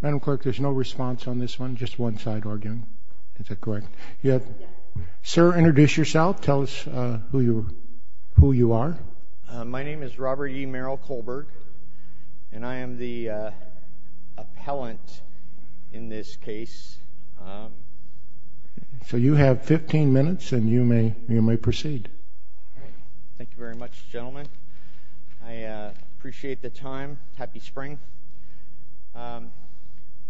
Madam Clerk, there's no response on this one. Just one side arguing. Is that correct? Yes. Sir, introduce yourself. Tell us who you are. My name is Robert E. Merrill Kohlberg and I am the appellant in this case. So you have 15 minutes and you may you may proceed. Thank you very much gentlemen. I appreciate the time. Happy spring.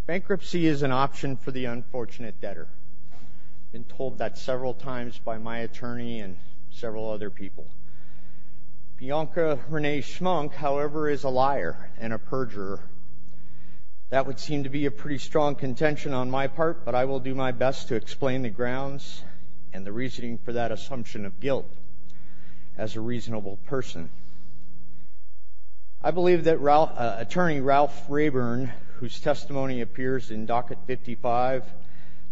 Bankruptcy is an option for the unfortunate debtor. I've been told that several times by my attorney and several other people. Bianca Renee Schmunk however is a liar and a perjurer. That would seem to be a pretty strong contention on my part but I will do my best to explain the grounds and the reasoning for that assumption of guilt as a reasonable person. I believe that attorney Ralph Rayburn whose testimony appears in docket 55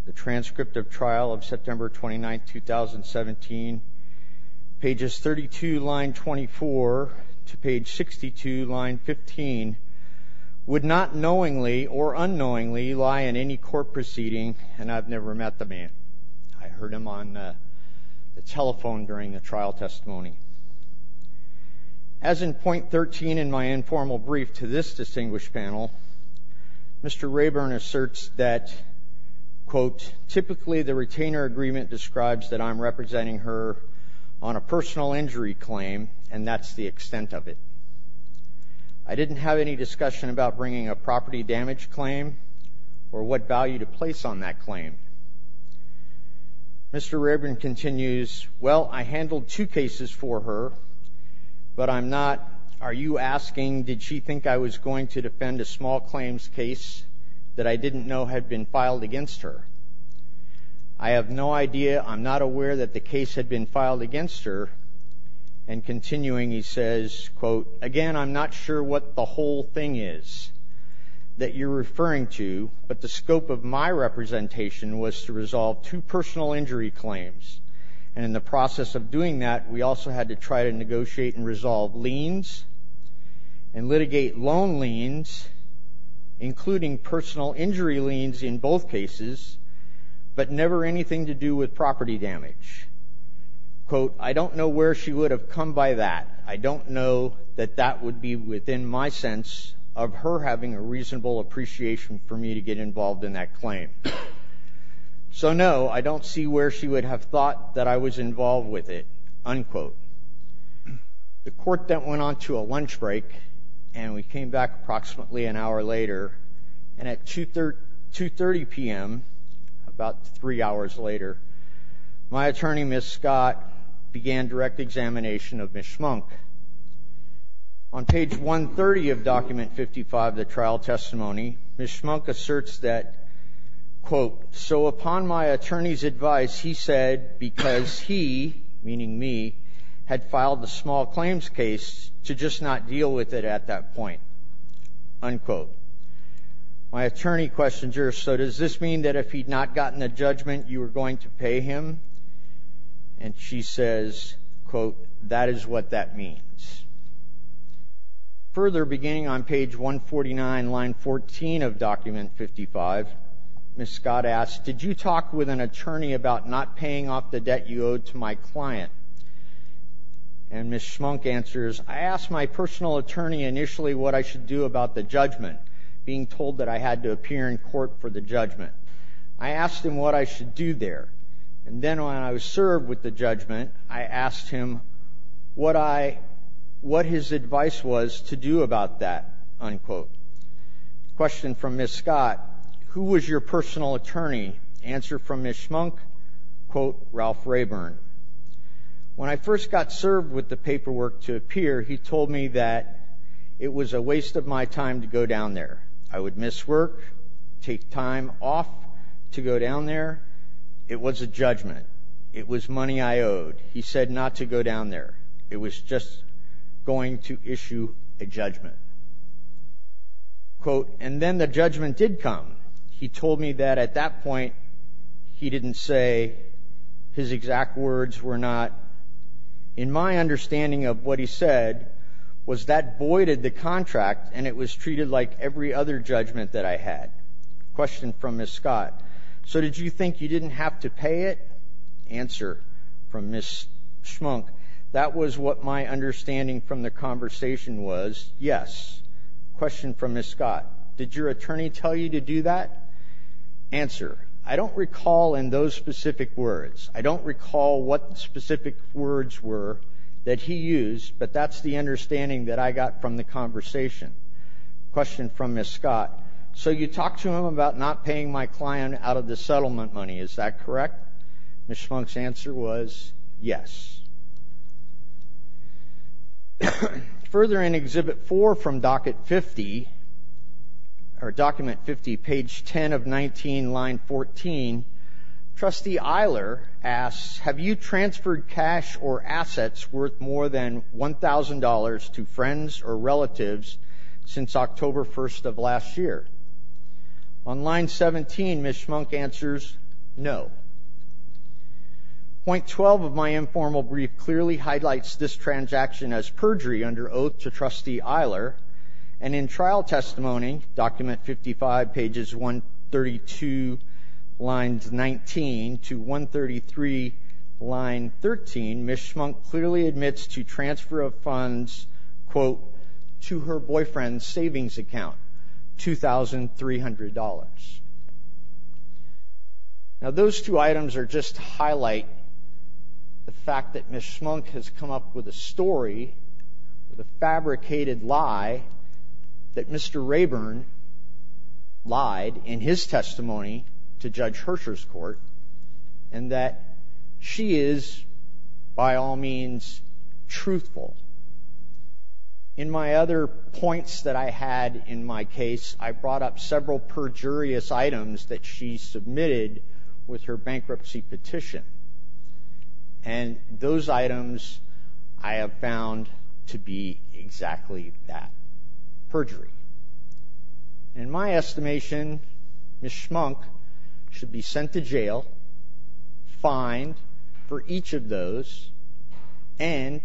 the transcript of trial of September 29th 2017 pages 32 line 24 to page 62 line 15 would not knowingly or unknowingly lie in any court proceeding and I've never met the man. I heard him on the telephone during the trial testimony. As in point 13 in my formal brief to this distinguished panel Mr. Rayburn asserts that quote typically the retainer agreement describes that I'm representing her on a personal injury claim and that's the extent of it. I didn't have any discussion about bringing a property damage claim or what value to place on that claim. Mr. Rayburn continues well I handled two cases for her but I'm not are you asking did she think I was going to defend a small claims case that I didn't know had been filed against her. I have no idea I'm not aware that the case had been filed against her and continuing he says quote again I'm not sure what the whole thing is that you're referring to but the scope of my representation was to resolve two personal injury claims and in the and litigate loan liens including personal injury liens in both cases but never anything to do with property damage. Quote I don't know where she would have come by that I don't know that that would be within my sense of her having a reasonable appreciation for me to get involved in that claim. So no I don't see where she would have thought that I was involved with it unquote. The court that went on to a lunch break and we came back approximately an hour later and at 2 30 p.m. about three hours later my attorney Miss Scott began direct examination of Ms. Schmunk. On page 130 of document 55 the trial testimony Ms. Schmunk asserts that quote so upon my attorney's advice he said because he meaning me had filed a small claims case to just not deal with it at that point unquote. My attorney questions her so does this mean that if he'd not gotten a judgment you were going to pay him and she says quote that is what that means. Further beginning on page 149 line 14 of document 55 Miss Scott asked did you talk with an attorney about not paying off the debt you owed to my client and Miss Schmunk answers I asked my personal attorney initially what I should do about the judgment being told that I had to appear in court for the judgment. I asked him what I should do there and then when I was served with the judgment I asked him what I what his advice was to do about that unquote. Question from Miss Scott who was your personal attorney answer from Miss Schmunk quote Ralph Rayburn when I first got served with the paperwork to appear he told me that it was a waste of my time to go down there I would miss work take time off to go down there it was a judgment it was money I owed he said not to go down there it was just going to issue a judgment quote and then the judgment did come he told me that at that point he didn't say his exact words were not in my understanding of what he said was that voided the contract and it was treated like every other judgment that I had. Question from Miss Scott so that was what my understanding from the conversation was yes. Question from Miss Scott did your attorney tell you to do that? Answer I don't recall in those specific words I don't recall what specific words were that he used but that's the understanding that I got from the conversation. Question from Miss Scott so you talked to him about not paying my client out of the settlement money is that correct? Miss Schmunk's answer was yes. Further in exhibit four from docket 50 or document 50 page 10 of 19 line 14 trustee Eiler asks have you transferred cash or assets worth more than $1,000 to friends or relatives since October 1st of last year? On line 17 Miss Schmunk answers no. Point 12 of my informal brief clearly highlights this transaction as perjury under oath to trustee Eiler and in trial testimony document 55 pages 132 lines 19 to 133 line 13 Miss Schmunk clearly admits to transfer of funds quote to her boyfriend's savings account $2,300. Now those two items are just highlight the fact that Miss Schmunk has come up with a story the fabricated lie that Mr. Rayburn lied in his testimony to Judge Hersher's court and that she is by all means truthful. In my other points that I had in my case I brought up several perjurious items that she submitted with her bankruptcy petition and those items I have found to be exactly that perjury. In my estimation Miss Schmunk should be sent to jail fined for each of those and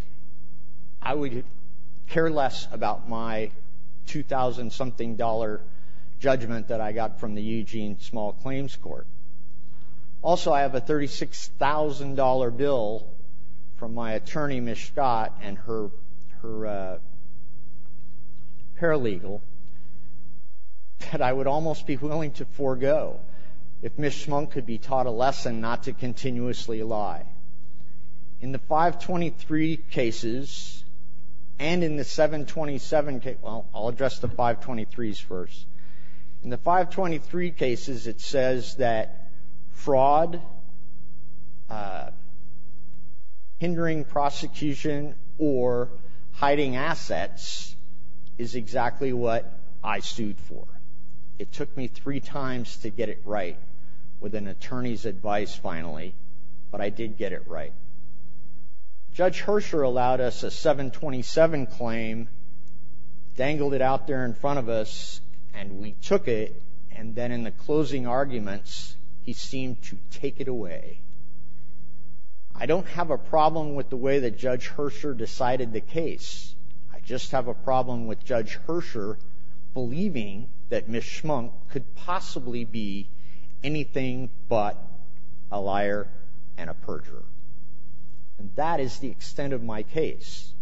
I would care less about my two thousand something dollar judgment that I got from the Eugene small claims court. Also I have a thirty six thousand dollar bill from my attorney Miss Scott and her her paralegal that I would almost be willing to forego if Miss Schmunk could be taught a lesson not to continuously lie. In the 523 cases and in the 727 case well I'll address the 523s first. In the 523 cases it says that fraud hindering prosecution or hiding assets is exactly what I sued for. It took me three times to get it right with an attorney's advice finally but I did get it right. Judge Hersher allowed us a 727 claim dangled it out there in front of us and we took it and then in the closing arguments he seemed to take it away. I don't have a problem with the way that Judge Hersher decided the case I just have a problem with Judge Hersher believing that Miss Schmunk could possibly be anything but a liar and a perjurer and that is the extent of my case.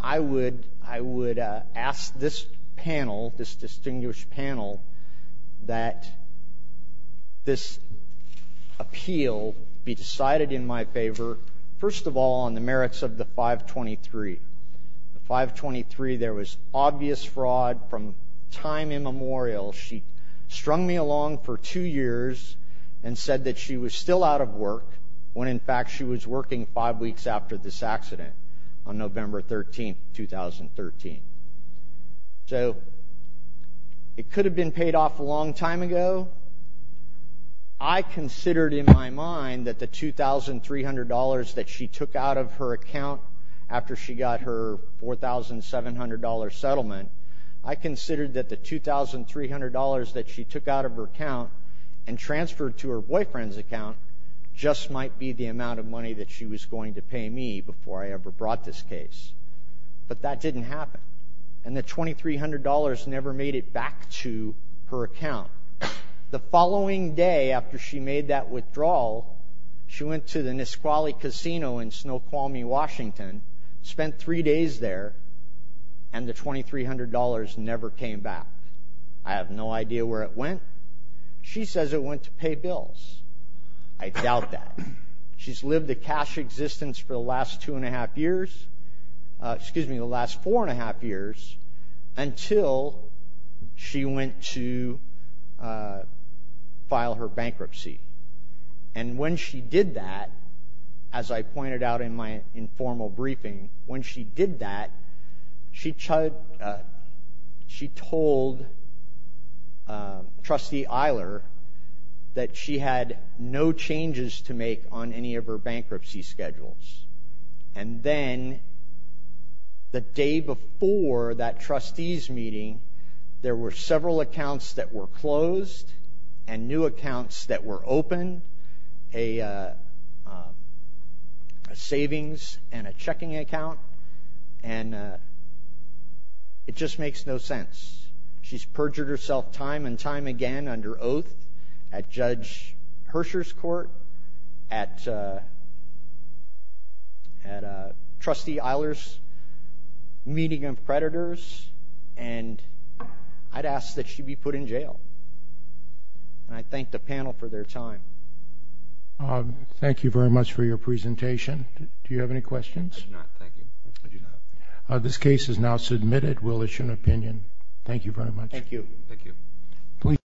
I would I would ask this panel this distinguished panel that this appeal be there was obvious fraud from time immemorial. She strung me along for two years and said that she was still out of work when in fact she was working five weeks after this accident on November 13th 2013. So it could have been paid off a long time ago. I considered in my mind that the $2,300 that she took out of her account after she got her $4,700 settlement I considered that the $2,300 that she took out of her account and transferred to her boyfriend's account just might be the amount of money that she was going to pay me before I ever brought this case. But that didn't happen and the $2,300 never made it back to her account. The following day after she made that withdrawal she went to the Nisqually Casino in Snoqualmie, Washington spent three days there and the $2,300 never came back. I have no idea where it went. She says it went to pay bills. I doubt that. She's lived a cash existence for the last two and a half years excuse me the last four and a half years until she went to file her bankruptcy and when she did that as I pointed out in my informal briefing when she did that she told trustee Eiler that she had no changes to make on any of her bankruptcy schedules and then the day before that trustees meeting there were several accounts that were closed and new accounts that were open a savings and a checking account and it just makes no sense. She's perjured herself time and time again under oath at Judge Hirscher's court at at trustee Eiler's meeting of predators and I'd ask that she be put in jail and I thank the panel for their time. Thank you very much for your presentation. Do you have any questions? This case is now submitted. We'll issue an opinion. Thank you very much. Thank you.